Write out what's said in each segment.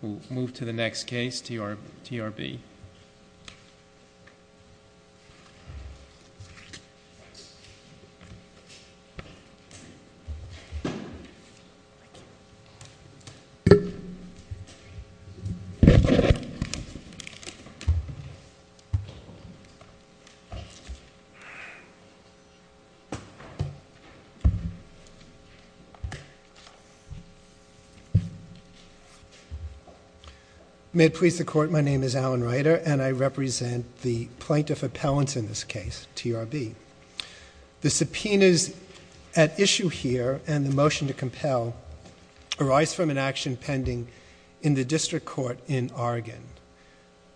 We'll move to the next case, TRB. May it please the Court, my name is Alan Reiter and I represent the plaintiff appellants in this case, TRB. The subpoenas at issue here and the motion to compel arise from an action pending in the District Court in Oregon.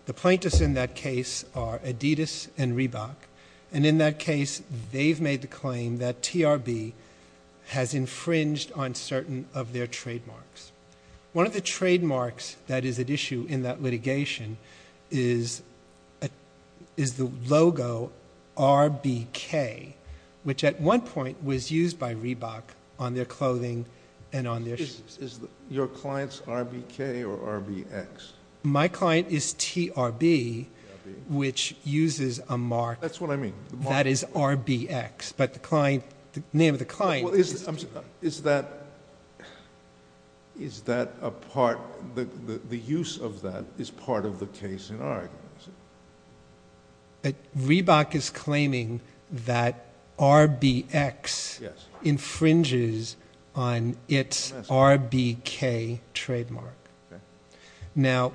The plaintiffs in that case are Adidas and Reebok, and in that case they've made the claim that TRB has infringed on certain of their trademarks. One of the trademarks that is at issue in that litigation is the logo RBK, which at one point was used by Reebok on their clothing and on their shoes. Is your client's RBK or RBX? My client is TRB, which uses a mark. That's what I mean. That is RBX, but the name of the client. Is that a part, the use of that is part of the case in Oregon? Reebok is claiming that RBX infringes on its RBK trademark. Now,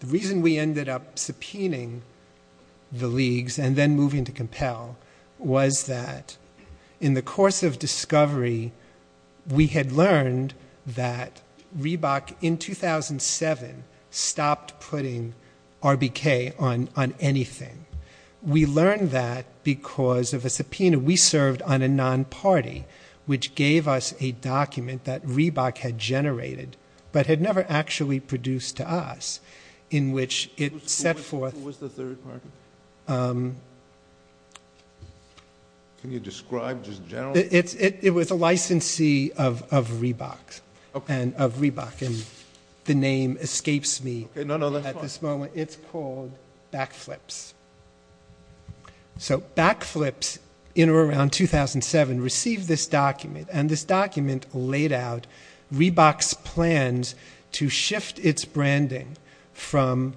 the reason we ended up subpoenaing the leagues and then moving to discovery, we had learned that Reebok in 2007 stopped putting RBK on anything. We learned that because of a subpoena. We served on a non-party, which gave us a document that Reebok had generated, but had never actually produced to us, in which it set forth Who was the third party? Can you describe just generally? It was a licensee of Reebok, and the name escapes me at this moment. It's called Backflips. Backflips, in or around 2007, received this document, and this document laid out Reebok's plans to shift its branding from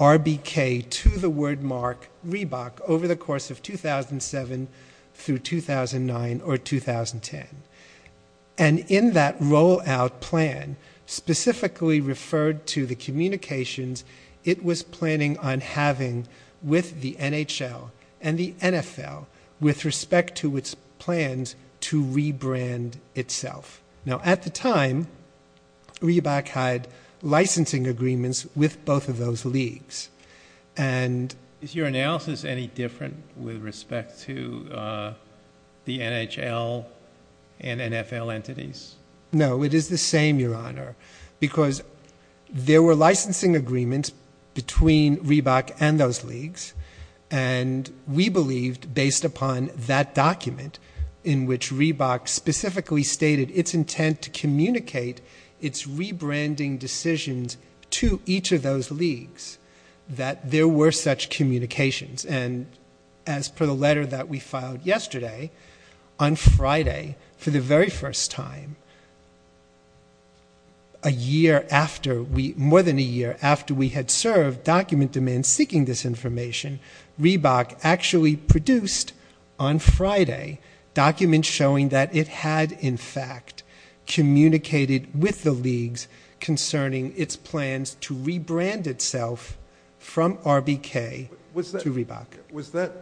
RBK to the word mark Reebok over the course of 2007 through 2009 or 2010. In that rollout plan, specifically referred to the communications it was planning on having with the NHL and the NFL with respect to its plans to Now, at the time, Reebok had licensing agreements with both of those leagues. Is your analysis any different with respect to the NHL and NFL entities? No, it is the same, Your Honor, because there were licensing agreements between Reebok and those leagues, and we believed, based upon that document, in which Reebok specifically stated its intent to communicate its rebranding decisions to each of those leagues, that there were such communications. And as per the letter that we filed yesterday, on Friday, for the very first time, a year after we, more than a year after we had served document demands seeking this information, Reebok actually produced, on Friday, documents showing that it had, in fact, communicated with the leagues concerning its plans to rebrand itself from RBK to Reebok. Was that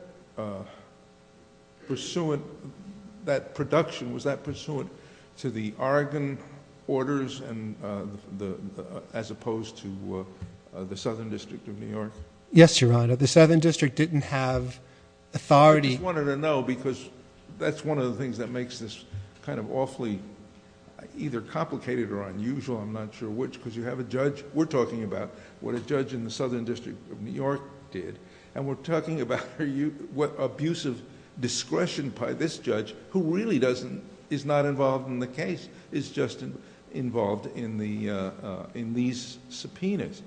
production, was that pursuant to the Oregon orders as opposed to the Southern District of New York? Yes, Your Honor. The Southern District didn't have authority... I just wanted to know, because that's one of the things that makes this kind of awfully either complicated or unusual, I'm not sure which, because you have a judge... we're talking about what a judge in the Southern District of New York did, and we're talking about what abusive discretion by this judge, who really is not involved in the case, is just involved in these subpoenas.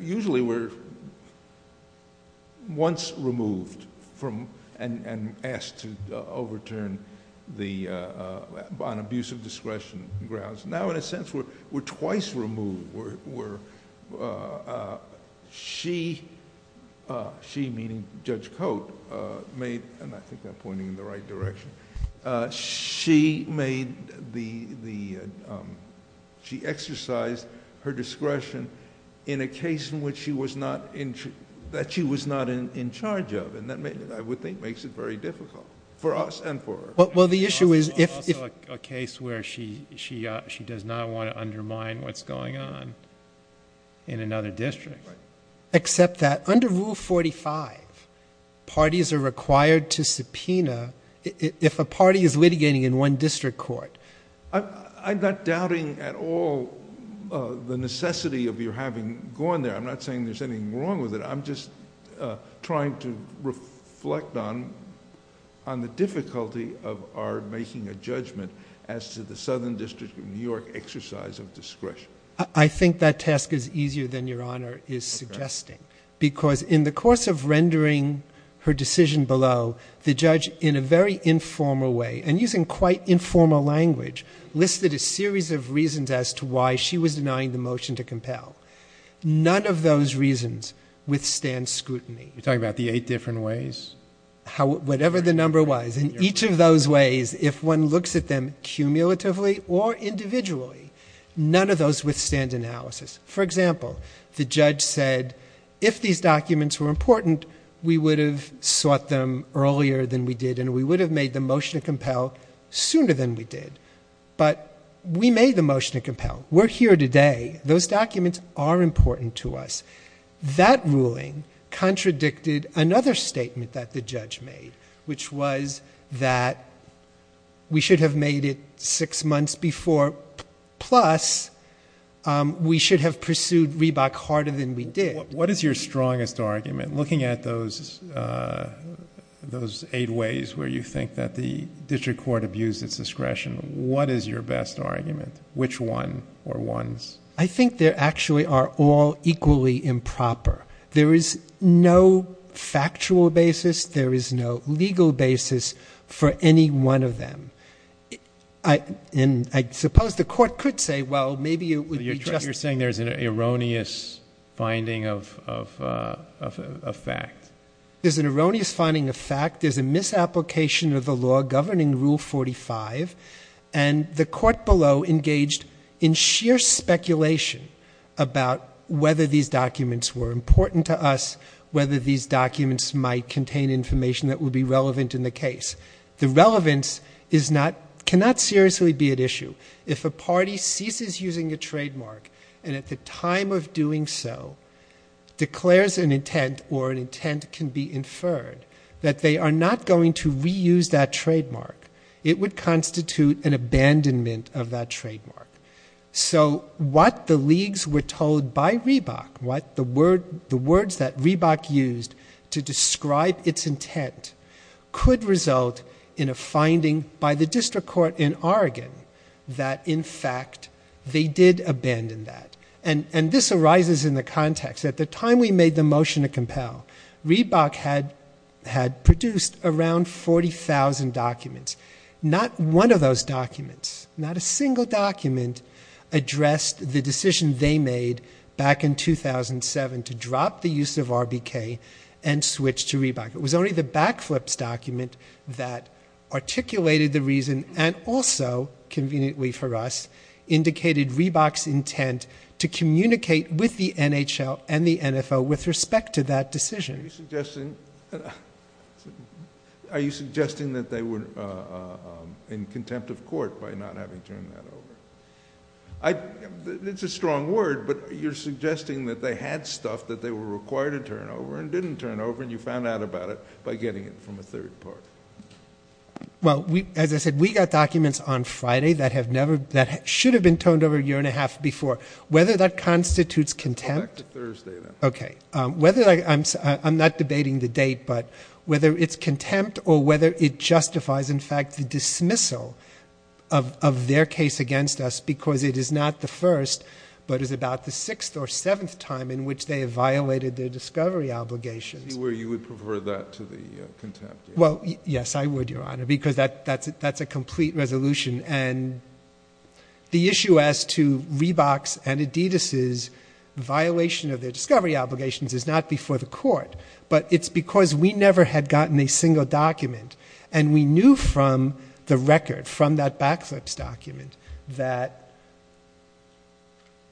Usually, we're once removed and asked to overturn on abusive discretion grounds. Now, in a sense, we're twice removed. She, meaning Judge Cote, made... and I think I'm pointing in the right direction. She exercised her discretion in a case that she was not in charge of, and that, I would think, makes it very difficult for us and for her. Well, the issue is... It's also a case where she does not want to undermine what's going on in another district. Right. Except that under Rule 45, parties are required to subpoena if a party is litigating in one district court. I'm not doubting at all the necessity of your having gone there. I'm not saying there's anything wrong with it. I'm just trying to reflect on the difficulty of our making a judgment as to the Southern District of New York exercise of discretion. I think that task is easier than Your Honor is suggesting, because in the course of rendering her decision below, the judge, in a very informal way, and using quite informal language, listed a series of reasons as to why she was denying the motion to compel. None of those reasons withstand scrutiny. You're talking about the eight different ways? Whatever the number was. In each of those ways, if one looks at them cumulatively or individually, none of those withstand analysis. For example, the judge said, if these documents were important, we would have sought them earlier than we did, and we would have made the motion to compel sooner than we did. But we made the motion to compel. We're here today. Those documents are important to us. That ruling contradicted another statement that the judge made, which was that we should have made it six months before, plus we should have pursued Reebok harder than we did. What is your strongest argument? Looking at those eight ways where you think that the district court abused its discretion, what is your best argument? Which one or ones? I think they actually are all equally improper. There is no factual basis. There is no legal basis for any one of them. And I suppose the court could say, well, maybe it would be just. You're saying there's an erroneous finding of fact. There's an erroneous finding of fact. There's a misapplication of the law governing Rule 45. And the court below engaged in sheer speculation about whether these documents were important to us, whether these documents might contain information that would be relevant in the case. The relevance cannot seriously be at issue. If a party ceases using a trademark and at the time of doing so declares an intent or an intent can be inferred that they are not going to reuse that trademark, it would constitute an abandonment of that trademark. So what the leagues were told by Reebok, what the words that Reebok used to describe its intent could result in a finding by the district court in Oregon that in fact they did abandon that. And this arises in the context. At the time we made the motion to compel, Reebok had produced around 40,000 documents. Not one of those documents, not a single document addressed the decision they made back in 2007 to drop the use of RBK and switch to Reebok. It was only the backflips document that articulated the reason and also, conveniently for us, indicated Reebok's intent to communicate with the NHL and the NFO with respect to that decision. Are you suggesting that they were in contempt of court by not having turned that over? It's a strong word, but you're suggesting that they had stuff that they were required to turn over and didn't turn over and you found out about it by getting it from a third party. Well, as I said, we got documents on Friday that should have been turned over a year and a half before. Whether that constitutes contempt. Back to Thursday, then. Okay. I'm not debating the date, but whether it's contempt or whether it justifies, in fact, the dismissal of their case against us because it is not the first but is about the sixth or seventh time in which they have violated their discovery obligations. You would prefer that to the contempt? Well, yes, I would, Your Honor, because that's a complete resolution. And the issue as to Reeboks and Adidas' violation of their discovery obligations is not before the court, but it's because we never had gotten a single document. And we knew from the record, from that backflips document, that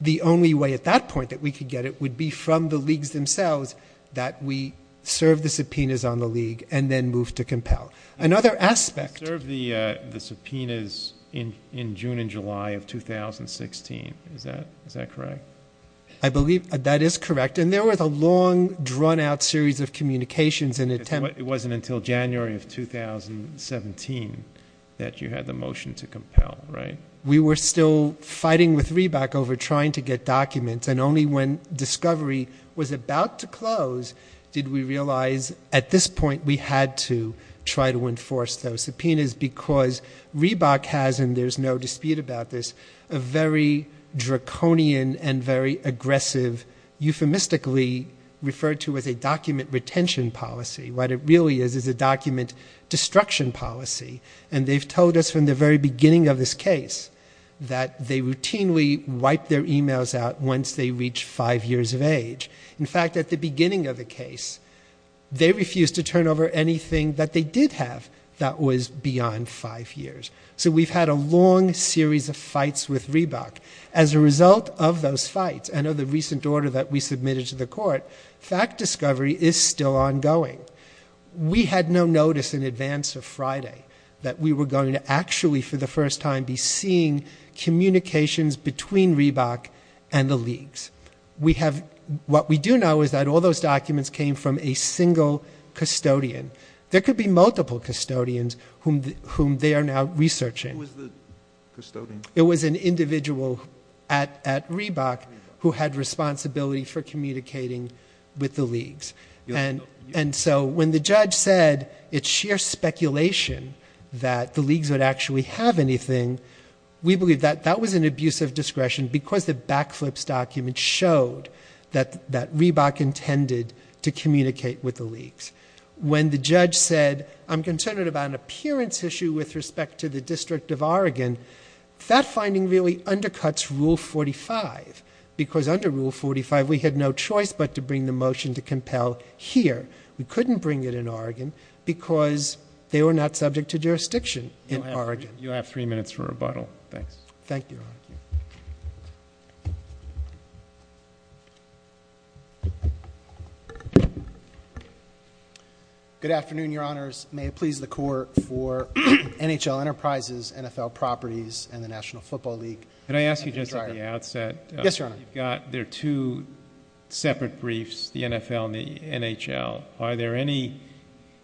the only way at that point that we could get it would be from the leagues themselves that we serve the subpoenas on the league and then move to compel. Another aspect. You served the subpoenas in June and July of 2016. Is that correct? I believe that is correct. And there was a long, drawn-out series of communications and attempts. It wasn't until January of 2017 that you had the motion to compel, right? We were still fighting with Reebok over trying to get documents, and only when discovery was about to close did we realize at this point that we had to try to enforce those subpoenas because Reebok has, and there's no dispute about this, a very draconian and very aggressive, euphemistically referred to as a document retention policy. What it really is is a document destruction policy. And they've told us from the very beginning of this case that they routinely In fact, at the beginning of the case, they refused to turn over anything that they did have that was beyond five years. So we've had a long series of fights with Reebok. As a result of those fights and of the recent order that we submitted to the court, fact discovery is still ongoing. We had no notice in advance of Friday that we were going to actually, for the first time, be seeing communications between Reebok and the leagues. What we do know is that all those documents came from a single custodian. There could be multiple custodians whom they are now researching. Who was the custodian? It was an individual at Reebok who had responsibility for communicating with the leagues. And so when the judge said it's sheer speculation that the leagues would actually have anything, we believe that that was an abuse of discretion because the backflips document showed that Reebok intended to communicate with the leagues. When the judge said, I'm concerned about an appearance issue with respect to the District of Oregon, that finding really undercuts Rule 45. Because under Rule 45, we had no choice but to bring the motion to compel here. We couldn't bring it in Oregon because they were not subject to jurisdiction in Oregon. You have three minutes for rebuttal. Thanks. Thank you. Good afternoon, Your Honors. May it please the Court for NHL Enterprises, NFL Properties, and the National Football League. Can I ask you just at the outset? Yes, Your Honor. You've got their two separate briefs, the NFL and the NHL. Are there any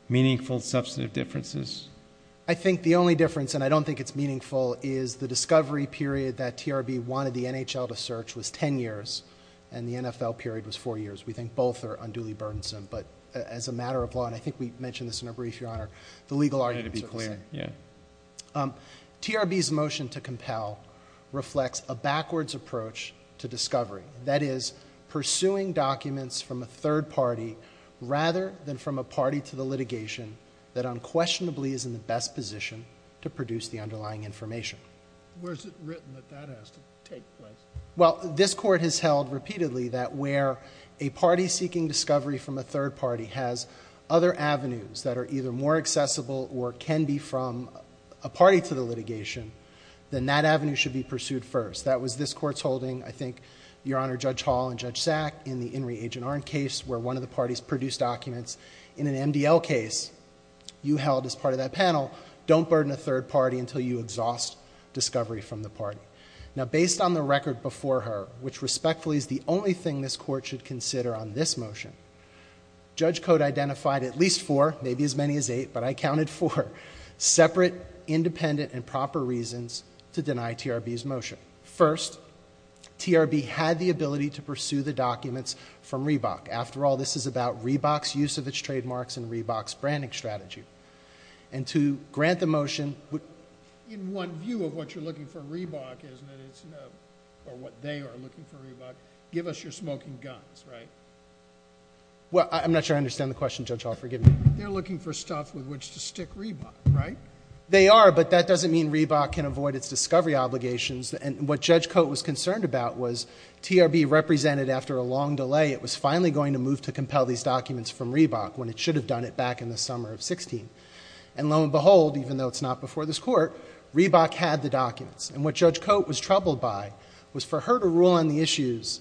meaningful substantive differences? I think the only difference, and I don't think it's meaningful, is the discovery period that TRB wanted the NHL to search was ten years and the NFL period was four years. We think both are unduly burdensome. But as a matter of law, and I think we mentioned this in our brief, Your Honor, the legal arguments are the same. TRB's motion to compel reflects a backwards approach to discovery. That is, pursuing documents from a third party rather than from a party to the litigation that unquestionably is in the best position to produce the underlying information. Where is it written that that has to take place? Well, this Court has held repeatedly that where a party seeking discovery from a third party has other avenues that are either more accessible or can be from a party to the litigation, then that avenue should be pursued first. That was this Court's holding, I think, Your Honor, Judge Hall and Judge Sack, in the In re Agent Arnn case where one of the parties produced documents. In an MDL case you held as part of that panel, don't burden a third party until you exhaust discovery from the party. Now, based on the record before her, which respectfully is the only thing this Court should consider on this motion, Judge Code identified at least four, maybe as many as eight, but I counted four, separate, independent, and proper reasons to deny TRB's motion. First, TRB had the ability to pursue the documents from Reebok. After all, this is about Reebok's use of its trademarks and Reebok's branding strategy. And to grant the motion would... In one view of what you're looking for in Reebok, isn't it, or what they are looking for in Reebok, give us your smoking guns, right? Well, I'm not sure I understand the question, Judge Hall. Forgive me. They're looking for stuff with which to stick Reebok, right? They are, but that doesn't mean Reebok can avoid its discovery obligations. And what Judge Code was concerned about was TRB represented after a long delay. It was finally going to move to compel these documents from Reebok when it should have done it back in the summer of 16. And lo and behold, even though it's not before this Court, Reebok had the documents. And what Judge Code was troubled by was for her to rule on the issues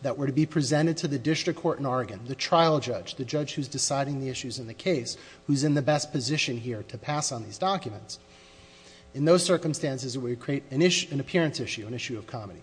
that were to be presented to the district court in Oregon, the trial judge, the judge who's deciding the issues in the case, who's in the best position here to pass on these documents. In those circumstances, it would create an appearance issue, an issue of comedy.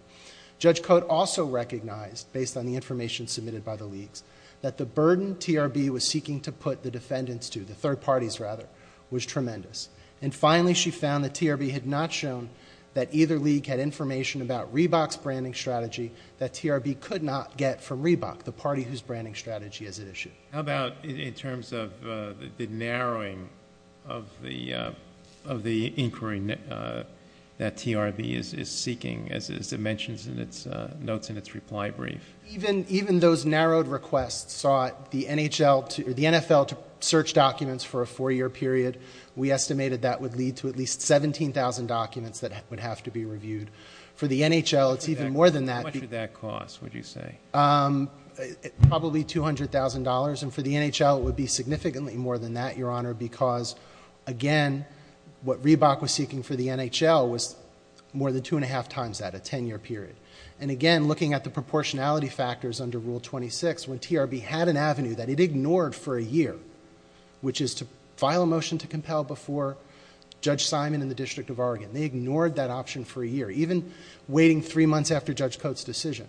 Judge Code also recognized, based on the information submitted by the leagues, that the burden TRB was seeking to put the defendants to, the third parties rather, was tremendous. And finally, she found that TRB had not shown that either league had information about Reebok's branding strategy that TRB could not get from Reebok, the party whose branding strategy is at issue. How about in terms of the narrowing of the inquiry that TRB is seeking, as it mentions in its notes in its reply brief? Even those narrowed requests saw the NFL to search documents for a four-year period. We estimated that would lead to at least 17,000 documents that would have to be reviewed. For the NHL, it's even more than that. How much would that cost, would you say? Probably $200,000. And for the NHL, it would be significantly more than that, Your Honor, because, again, what Reebok was seeking for the NHL was more than two and a half times that, a ten-year period. And again, looking at the proportionality factors under Rule 26, when TRB had an avenue that it ignored for a year, which is to file a motion to compel before Judge Simon and the District of Oregon, they ignored that option for a year, even waiting three months after Judge Coates' decision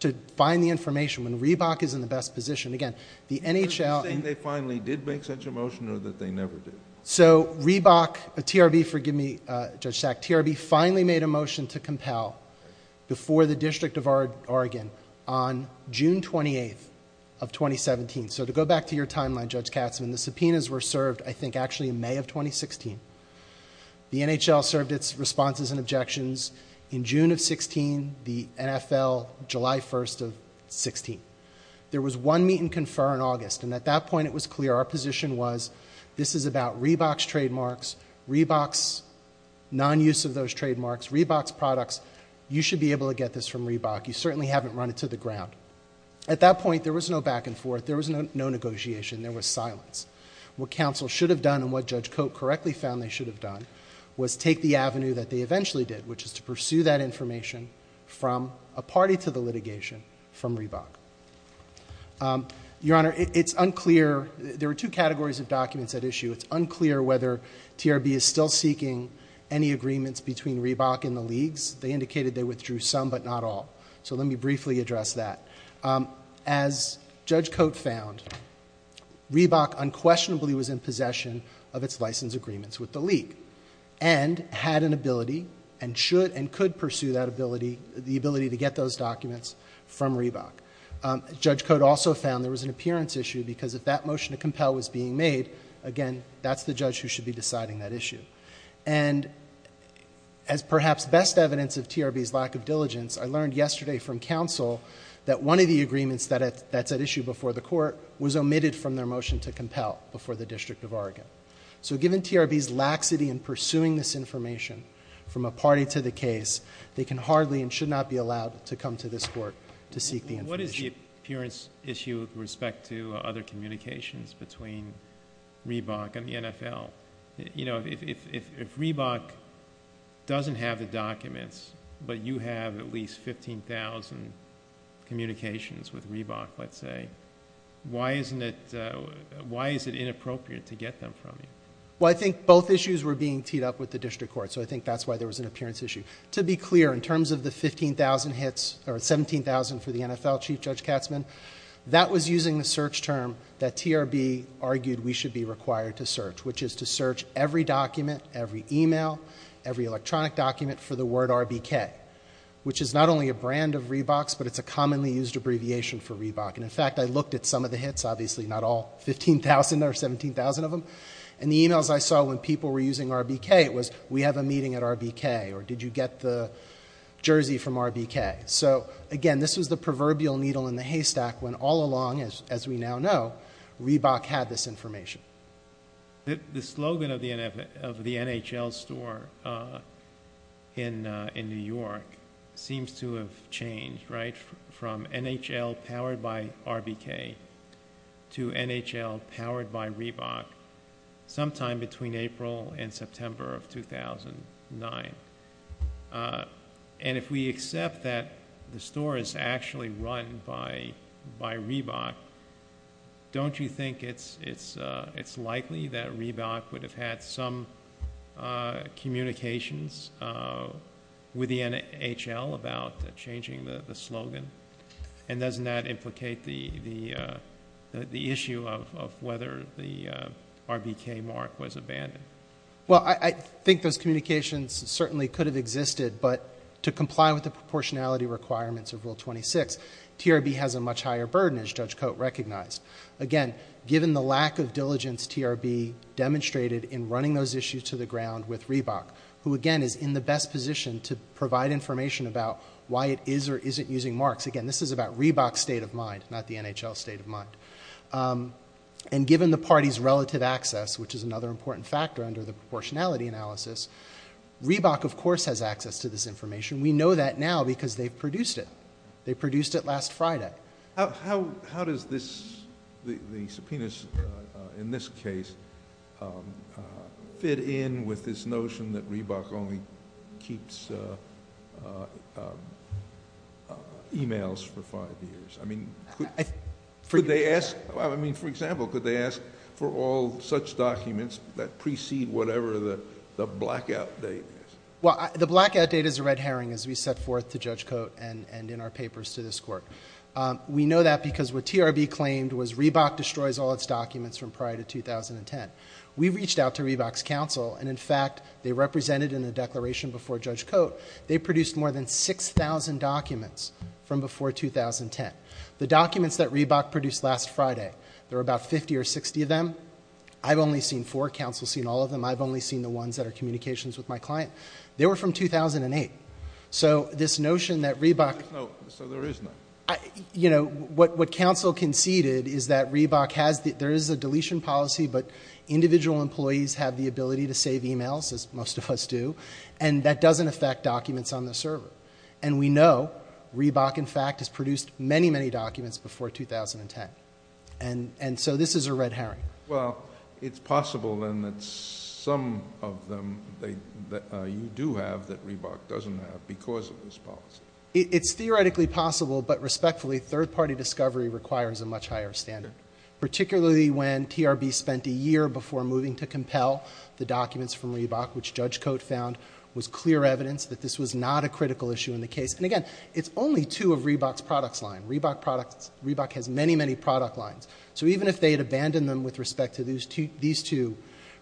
to find the information. When Reebok is in the best position, again, the NHL... Are you saying they finally did make such a motion or that they never did? So, Reebok... TRB, forgive me, Judge Sack, TRB finally made a motion to compel before the District of Oregon on June 28th of 2017. So to go back to your timeline, Judge Katzmann, the subpoenas were served, I think, actually in May of 2016. The NHL served its responses and objections in June of 2016, the NFL, July 1st of 2016. There was one meet and confer in August, and at that point it was clear our position was, this is about Reebok's trademarks, Reebok's non-use of those trademarks, Reebok's products. You should be able to get this from Reebok. You certainly haven't run it to the ground. At that point, there was no back and forth. There was no negotiation. There was silence. What counsel should have done and what Judge Cote correctly found they should have done was take the avenue that they eventually did, which is to pursue that information from a party to the litigation, from Reebok. Your Honor, it's unclear... there were two categories of documents at issue. It's unclear whether TRB is still seeking any agreements between Reebok and the leagues. They indicated they withdrew some, but not all. So let me briefly address that. As Judge Cote found, Reebok unquestionably was in possession of its license agreements with the league and had an ability and should and could pursue that ability, the ability to get those documents from Reebok. Judge Cote also found there was an appearance issue because if that motion to compel was being made, again, that's the judge who should be deciding that issue. As perhaps best evidence of TRB's lack of diligence, I learned yesterday from counsel that one of the agreements that's at issue before the court was omitted from their motion to compel before the District of Oregon. So given TRB's laxity in pursuing this information from a party to the case, they can hardly and should not be allowed to come to this court to seek the information. What is the appearance issue with respect to other communications between Reebok and the NFL? If Reebok doesn't have the documents, but you have at least 15,000 communications with Reebok, let's say, why is it inappropriate to get them from you? Well, I think both issues were being teed up with the district court, so I think that's why there was an appearance issue. To be clear, in terms of the 15,000 hits or 17,000 for the NFL, Chief Judge Katzmann, that was using the search term that TRB argued we should be required to search, which is to search every document, every email, every electronic document for the word RBK, which is not only a brand of Reebok's, but it's a commonly used abbreviation for Reebok. And, in fact, I looked at some of the hits, obviously not all 15,000 or 17,000 of them, and the emails I saw when people were using RBK was, we have a meeting at RBK, or did you get the jersey from RBK? So, again, this was the proverbial needle in the haystack when all along, as we now know, Reebok had this information. The slogan of the NHL store in New York seems to have changed, right, from NHL powered by RBK to NHL powered by Reebok sometime between April and September of 2009. And if we accept that the store is actually run by Reebok, don't you think it's likely that Reebok would have had some communications with the NHL about changing the slogan? And doesn't that implicate the issue of whether the RBK mark was abandoned? Well, I think those communications certainly could have existed, but to comply with the proportionality requirements of Rule 26, TRB has a much higher burden, as Judge Cote recognized. Again, given the lack of diligence TRB demonstrated in running those issues to the ground with Reebok, who, again, is in the best position to provide information about why it is or isn't using marks, again, this is about Reebok's state of mind, not the NHL's state of mind. And given the party's relative access, which is another important factor under the proportionality analysis, Reebok, of course, has access to this information. We know that now because they produced it. They produced it last Friday. How does the subpoenas in this case fit in with this notion that Reebok only keeps e-mails for five years? I mean, for example, could they ask for all such documents that precede whatever the blackout date is? Well, the blackout date is a red herring, as we set forth to Judge Cote and in our papers to this Court. We know that because what TRB claimed was Reebok destroys all its documents from prior to 2010. We reached out to Reebok's counsel, and, in fact, they represented in the declaration before Judge Cote, they produced more than 6,000 documents from before 2010. The documents that Reebok produced last Friday, there were about 50 or 60 of them. I've only seen four. Counsel's seen all of them. I've only seen the ones that are communications with my client. They were from 2008. So this notion that Reebok— So there is no— You know, what counsel conceded is that Reebok has—there is a deletion policy, but individual employees have the ability to save e-mails, as most of us do, and that doesn't affect documents on the server. And we know Reebok, in fact, has produced many, many documents before 2010. And so this is a red herring. Well, it's possible, then, that some of them you do have that Reebok doesn't have because of this policy. It's theoretically possible, but, respectfully, third-party discovery requires a much higher standard, particularly when TRB spent a year before moving to compel the documents from Reebok, which Judge Cote found was clear evidence that this was not a critical issue in the case. And, again, it's only two of Reebok's products line. Reebok has many, many product lines. So even if they had abandoned them with respect to these two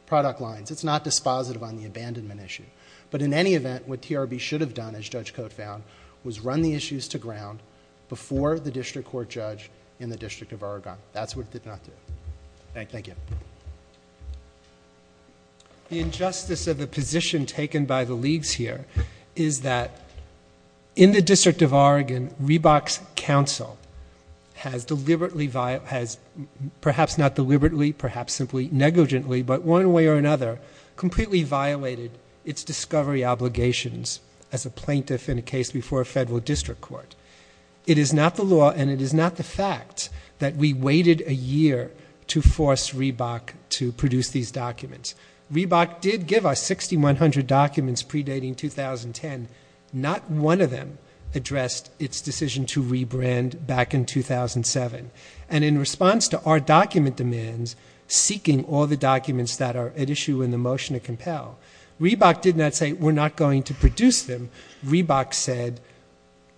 product lines, it's not dispositive on the abandonment issue. But in any event, what TRB should have done, as Judge Cote found, was run the issues to ground before the district court judge in the District of Oregon. That's what it did not do. Thank you. The injustice of the position taken by the leagues here is that, in the District of Oregon, Reebok's counsel has deliberately, perhaps not deliberately, perhaps simply negligently, but one way or another, completely violated its discovery obligations as a plaintiff in a case before a federal district court. It is not the law and it is not the fact that we waited a year to force Reebok to produce these documents. Reebok did give us 6,100 documents predating 2010. Not one of them addressed its decision to rebrand back in 2007. And in response to our document demands, seeking all the documents that are at issue in the motion to compel, Reebok did not say, we're not going to produce them. Reebok said,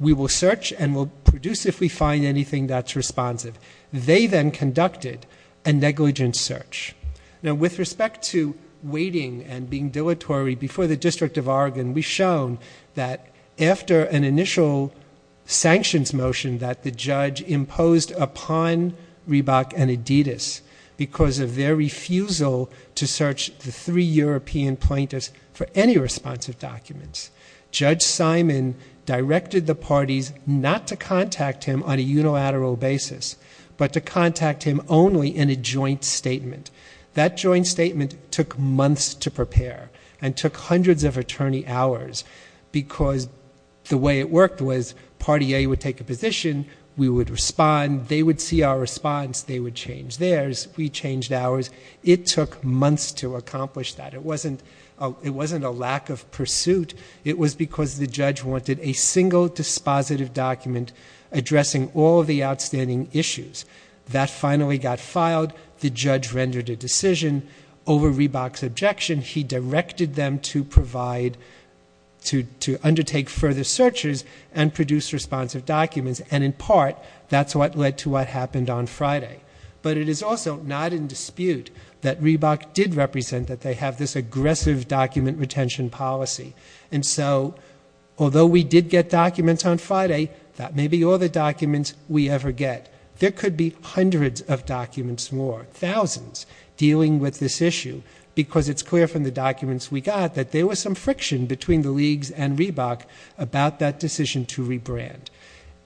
we will search and we'll produce if we find anything that's responsive. They then conducted a negligent search. Now, with respect to waiting and being dilatory before the District of Oregon, we've shown that after an initial sanctions motion that the judge imposed upon Reebok and Adidas because of their refusal to search the three European plaintiffs for any responsive documents, Judge Simon directed the parties not to contact him on a unilateral basis, but to contact him only in a joint statement. That joint statement took months to prepare and took hundreds of attorney hours because the way it worked was party A would take a position, we would respond, they would see our response, they would change theirs, we changed ours. It took months to accomplish that. It wasn't a lack of pursuit. It was because the judge wanted a single dispositive document addressing all the outstanding issues. That finally got filed. The judge rendered a decision over Reebok's objection. He directed them to undertake further searches and produce responsive documents, and in part that's what led to what happened on Friday. But it is also not in dispute that Reebok did represent that they have this aggressive document retention policy. And so, although we did get documents on Friday, that may be all the documents we ever get. There could be hundreds of documents more, thousands, dealing with this issue because it's clear from the documents we got that there was some friction between the leagues and Reebok about that decision to rebrand.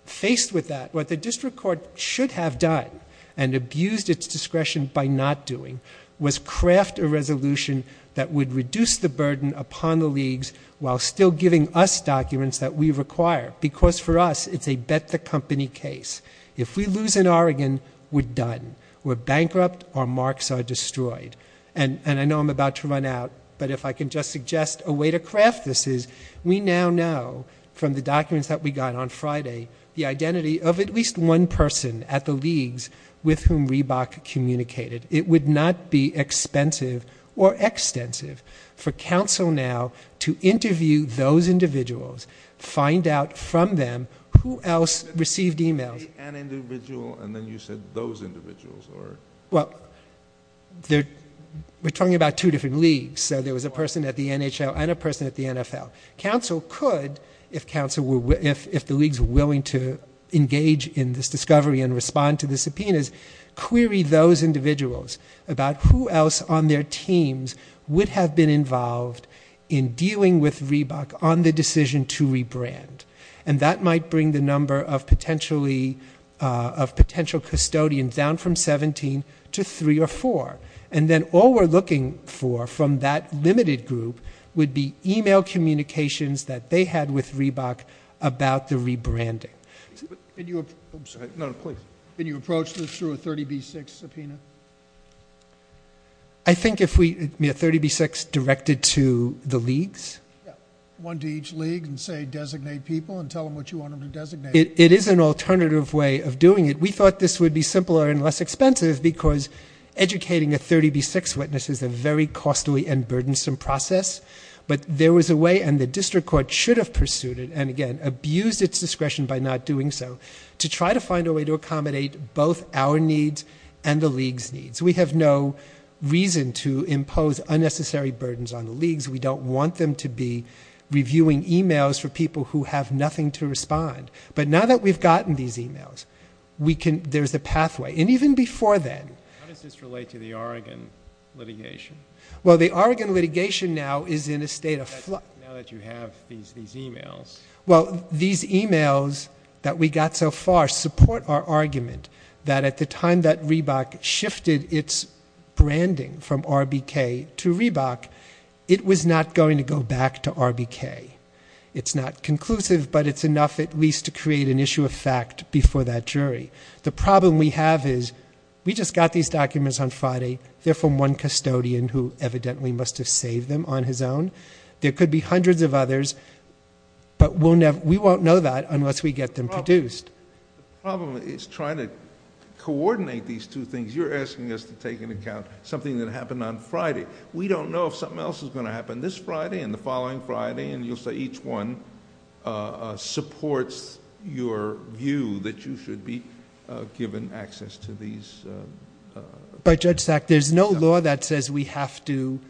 Faced with that, what the district court should have done and abused its discretion by not doing was craft a resolution that would reduce the burden upon the leagues while still giving us documents that we require because for us it's a bet-the-company case. If we lose in Oregon, we're done. We're bankrupt, our marks are destroyed. And I know I'm about to run out, but if I can just suggest a way to craft this is we now know from the documents that we got on Friday the identity of at least one person at the leagues with whom Reebok communicated. It would not be expensive or extensive for counsel now to interview those individuals, find out from them who else received e-mails. An individual and then you said those individuals? Well, we're talking about two different leagues. So there was a person at the NHL and a person at the NFL. Counsel could, if the leagues were willing to engage in this discovery and respond to the subpoenas, query those individuals about who else on their teams would have been involved in dealing with Reebok on the decision to rebrand. And that might bring the number of potential custodians down from 17 to 3 or 4. And then all we're looking for from that limited group would be e-mail communications that they had with Reebok about the rebranding. Can you approach this through a 30B6 subpoena? I think if we had 30B6 directed to the leagues? Yeah, one to each league and say designate people and tell them what you want them to designate. It is an alternative way of doing it. We thought this would be simpler and less expensive because educating a 30B6 witness is a very costly and burdensome process. But there was a way, and the district court should have pursued it, and again abused its discretion by not doing so, to try to find a way to accommodate both our needs and the leagues' needs. We have no reason to impose unnecessary burdens on the leagues. We don't want them to be reviewing e-mails for people who have nothing to respond. But now that we've gotten these e-mails, there's a pathway. And even before then. How does this relate to the Oregon litigation? Well, the Oregon litigation now is in a state of flux. Now that you have these e-mails. Well, these e-mails that we got so far support our argument that at the time that Reebok shifted its branding from RBK to Reebok, it was not going to go back to RBK. It's not conclusive, but it's enough at least to create an issue of fact before that jury. The problem we have is we just got these documents on Friday. They're from one custodian who evidently must have saved them on his own. There could be hundreds of others, but we won't know that unless we get them produced. The problem is trying to coordinate these two things. You're asking us to take into account something that happened on Friday. We don't know if something else is going to happen this Friday and the following Friday, and you'll say each one supports your view that you should be given access to these. But, Judge Sack, there's no law that says we have to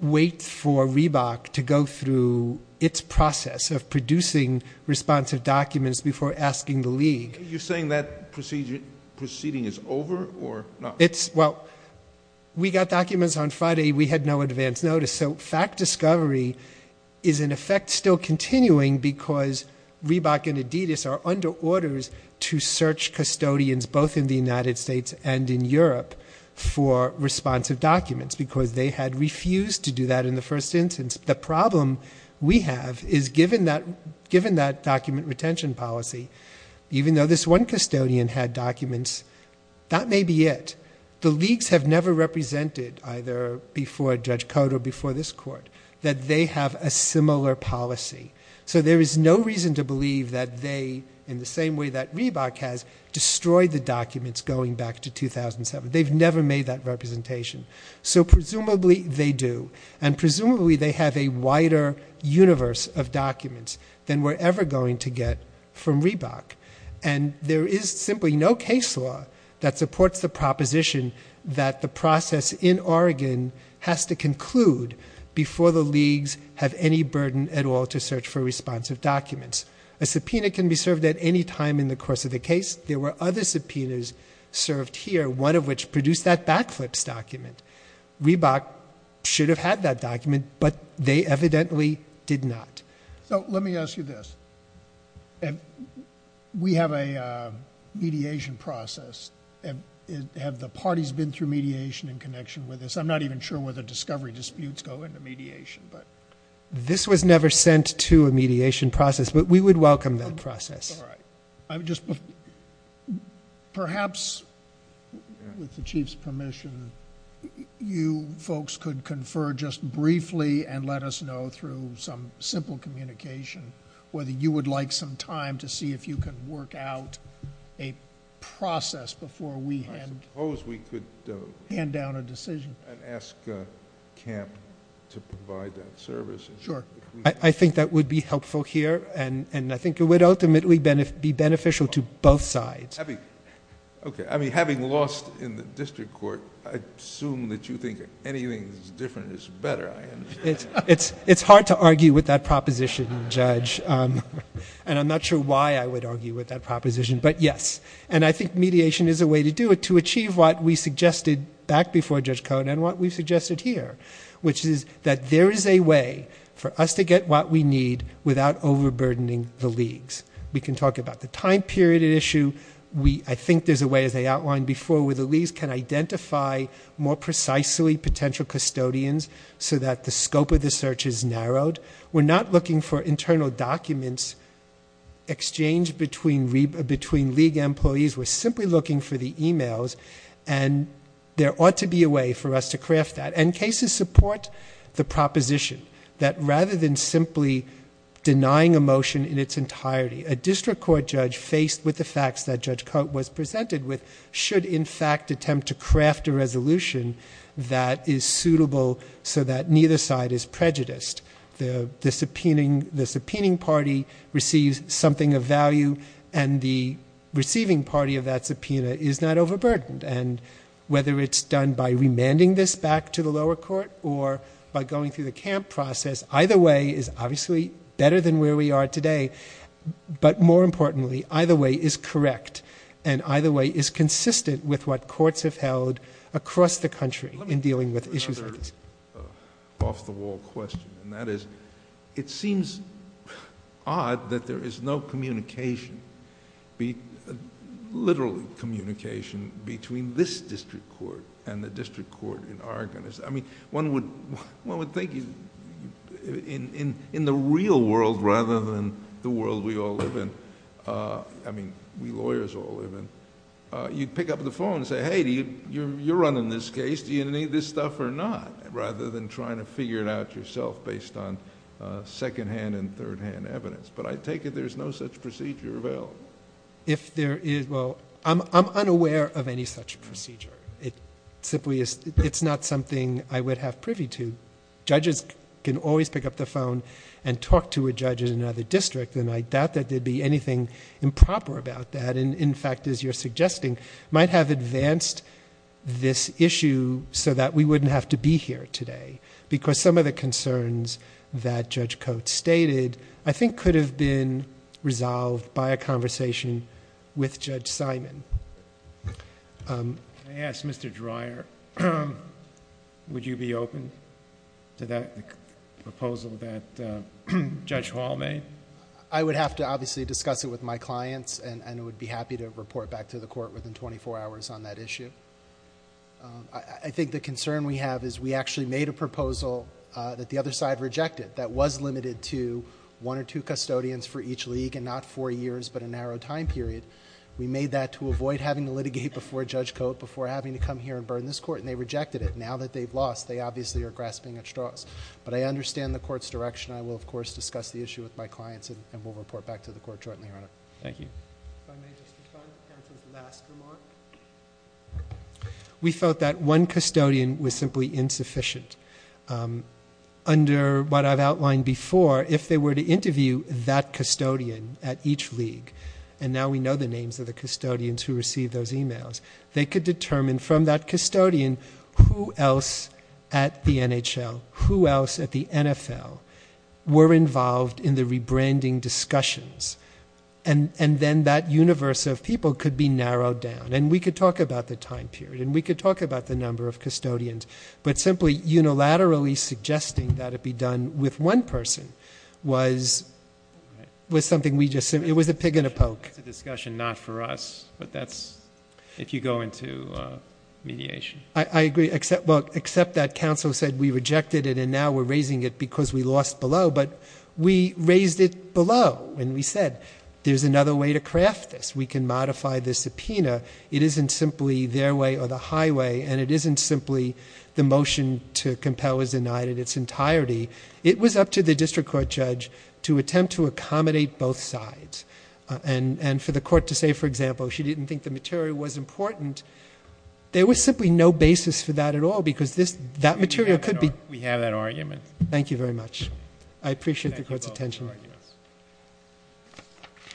wait for Reebok to go through its process of producing responsive documents before asking the league. You're saying that proceeding is over or not? Well, we got documents on Friday. We had no advance notice. So fact discovery is in effect still continuing because Reebok and Adidas are under orders to search custodians both in the United States and in Europe for responsive documents because they had refused to do that in the first instance. The problem we have is given that document retention policy, even though this one custodian had documents, that may be it. The leagues have never represented either before Judge Cote or before this court that they have a similar policy. So there is no reason to believe that they, in the same way that Reebok has, destroyed the documents going back to 2007. They've never made that representation. So presumably they do, and presumably they have a wider universe of documents than we're ever going to get from Reebok. And there is simply no case law that supports the proposition that the process in Oregon has to conclude before the leagues have any burden at all to search for responsive documents. A subpoena can be served at any time in the course of the case. There were other subpoenas served here, one of which produced that backflips document. Reebok should have had that document, but they evidently did not. Let me ask you this. We have a mediation process. Have the parties been through mediation in connection with this? I'm not even sure whether discovery disputes go into mediation. This was never sent to a mediation process, but we would welcome that process. Perhaps, with the Chief's permission, you folks could confer just briefly and let us know through some simple communication whether you would like some time to see if you can work out a process before we hand down a decision. I suppose we could ask Camp to provide that service. I think that would be helpful here, and I think it would ultimately be beneficial to both sides. Having lost in the district court, I assume that you think anything that's different is better. It's hard to argue with that proposition, Judge, and I'm not sure why I would argue with that proposition, but yes. I think mediation is a way to do it, to achieve what we suggested back before Judge Cohn and what we've suggested here, which is that there is a way for us to get what we need without overburdening the leagues. We can talk about the time period at issue. I think there's a way, as I outlined before, where the leagues can identify more precisely potential custodians so that the scope of the search is narrowed. We're not looking for internal documents exchanged between league employees. We're simply looking for the e-mails, and there ought to be a way for us to craft that. And cases support the proposition that rather than simply denying a motion in its entirety, a district court judge faced with the facts that Judge Cohn was presented with should in fact attempt to craft a resolution that is suitable so that neither side is prejudiced. The subpoenaing party receives something of value, and the receiving party of that subpoena is not overburdened. And whether it's done by remanding this back to the lower court or by going through the camp process, either way is obviously better than where we are today, but more importantly, either way is correct and either way is consistent with what courts have held across the country in dealing with issues like this. Off-the-wall question, and that is, it seems odd that there is no communication, literally communication, between this district court and the district court in Arkansas. One would think in the real world rather than the world we all live in, I mean we lawyers all live in, you'd pick up the phone and say, hey, you're running this case, do you need this stuff or not? Rather than trying to figure it out yourself based on second-hand and third-hand evidence. But I take it there's no such procedure available. If there is, well, I'm unaware of any such procedure. It simply is, it's not something I would have privy to. Judges can always pick up the phone and talk to a judge in another district, and I doubt that there would be anything improper about that. And in fact, as you're suggesting, might have advanced this issue so that we wouldn't have to be here today. Because some of the concerns that Judge Coates stated, I think, could have been resolved by a conversation with Judge Simon. I ask Mr. Dreyer, would you be open to that proposal that Judge Hall made? I would have to obviously discuss it with my clients, and I would be happy to report back to the court within 24 hours on that issue. I think the concern we have is we actually made a proposal that the other side rejected that was limited to one or two custodians for each league and not four years but a narrow time period. We made that to avoid having to litigate before Judge Coates, before having to come here and burn this court, and they rejected it. Now that they've lost, they obviously are grasping at straws. But I understand the court's direction. I will, of course, discuss the issue with my clients, and we'll report back to the court shortly, Your Honor. Thank you. If I may just respond to the last remark. We felt that one custodian was simply insufficient. Under what I've outlined before, if they were to interview that custodian at each league, and now we know the names of the custodians who received those e-mails, they could determine from that custodian who else at the NHL, who else at the NFL, were involved in the rebranding discussions, and then that universe of people could be narrowed down. And we could talk about the time period, and we could talk about the number of custodians, but simply unilaterally suggesting that it be done with one person was something we just said. It was a pig in a poke. It's a discussion not for us, but that's if you go into mediation. I agree. Well, except that counsel said we rejected it, and now we're raising it because we lost below. But we raised it below, and we said there's another way to craft this. We can modify the subpoena. It isn't simply their way or the highway, and it isn't simply the motion to compel is denied in its entirety. It was up to the district court judge to attempt to accommodate both sides. And for the court to say, for example, she didn't think the material was important, there was simply no basis for that at all because that material could be. We have that argument. Thank you very much. I appreciate the court's attention.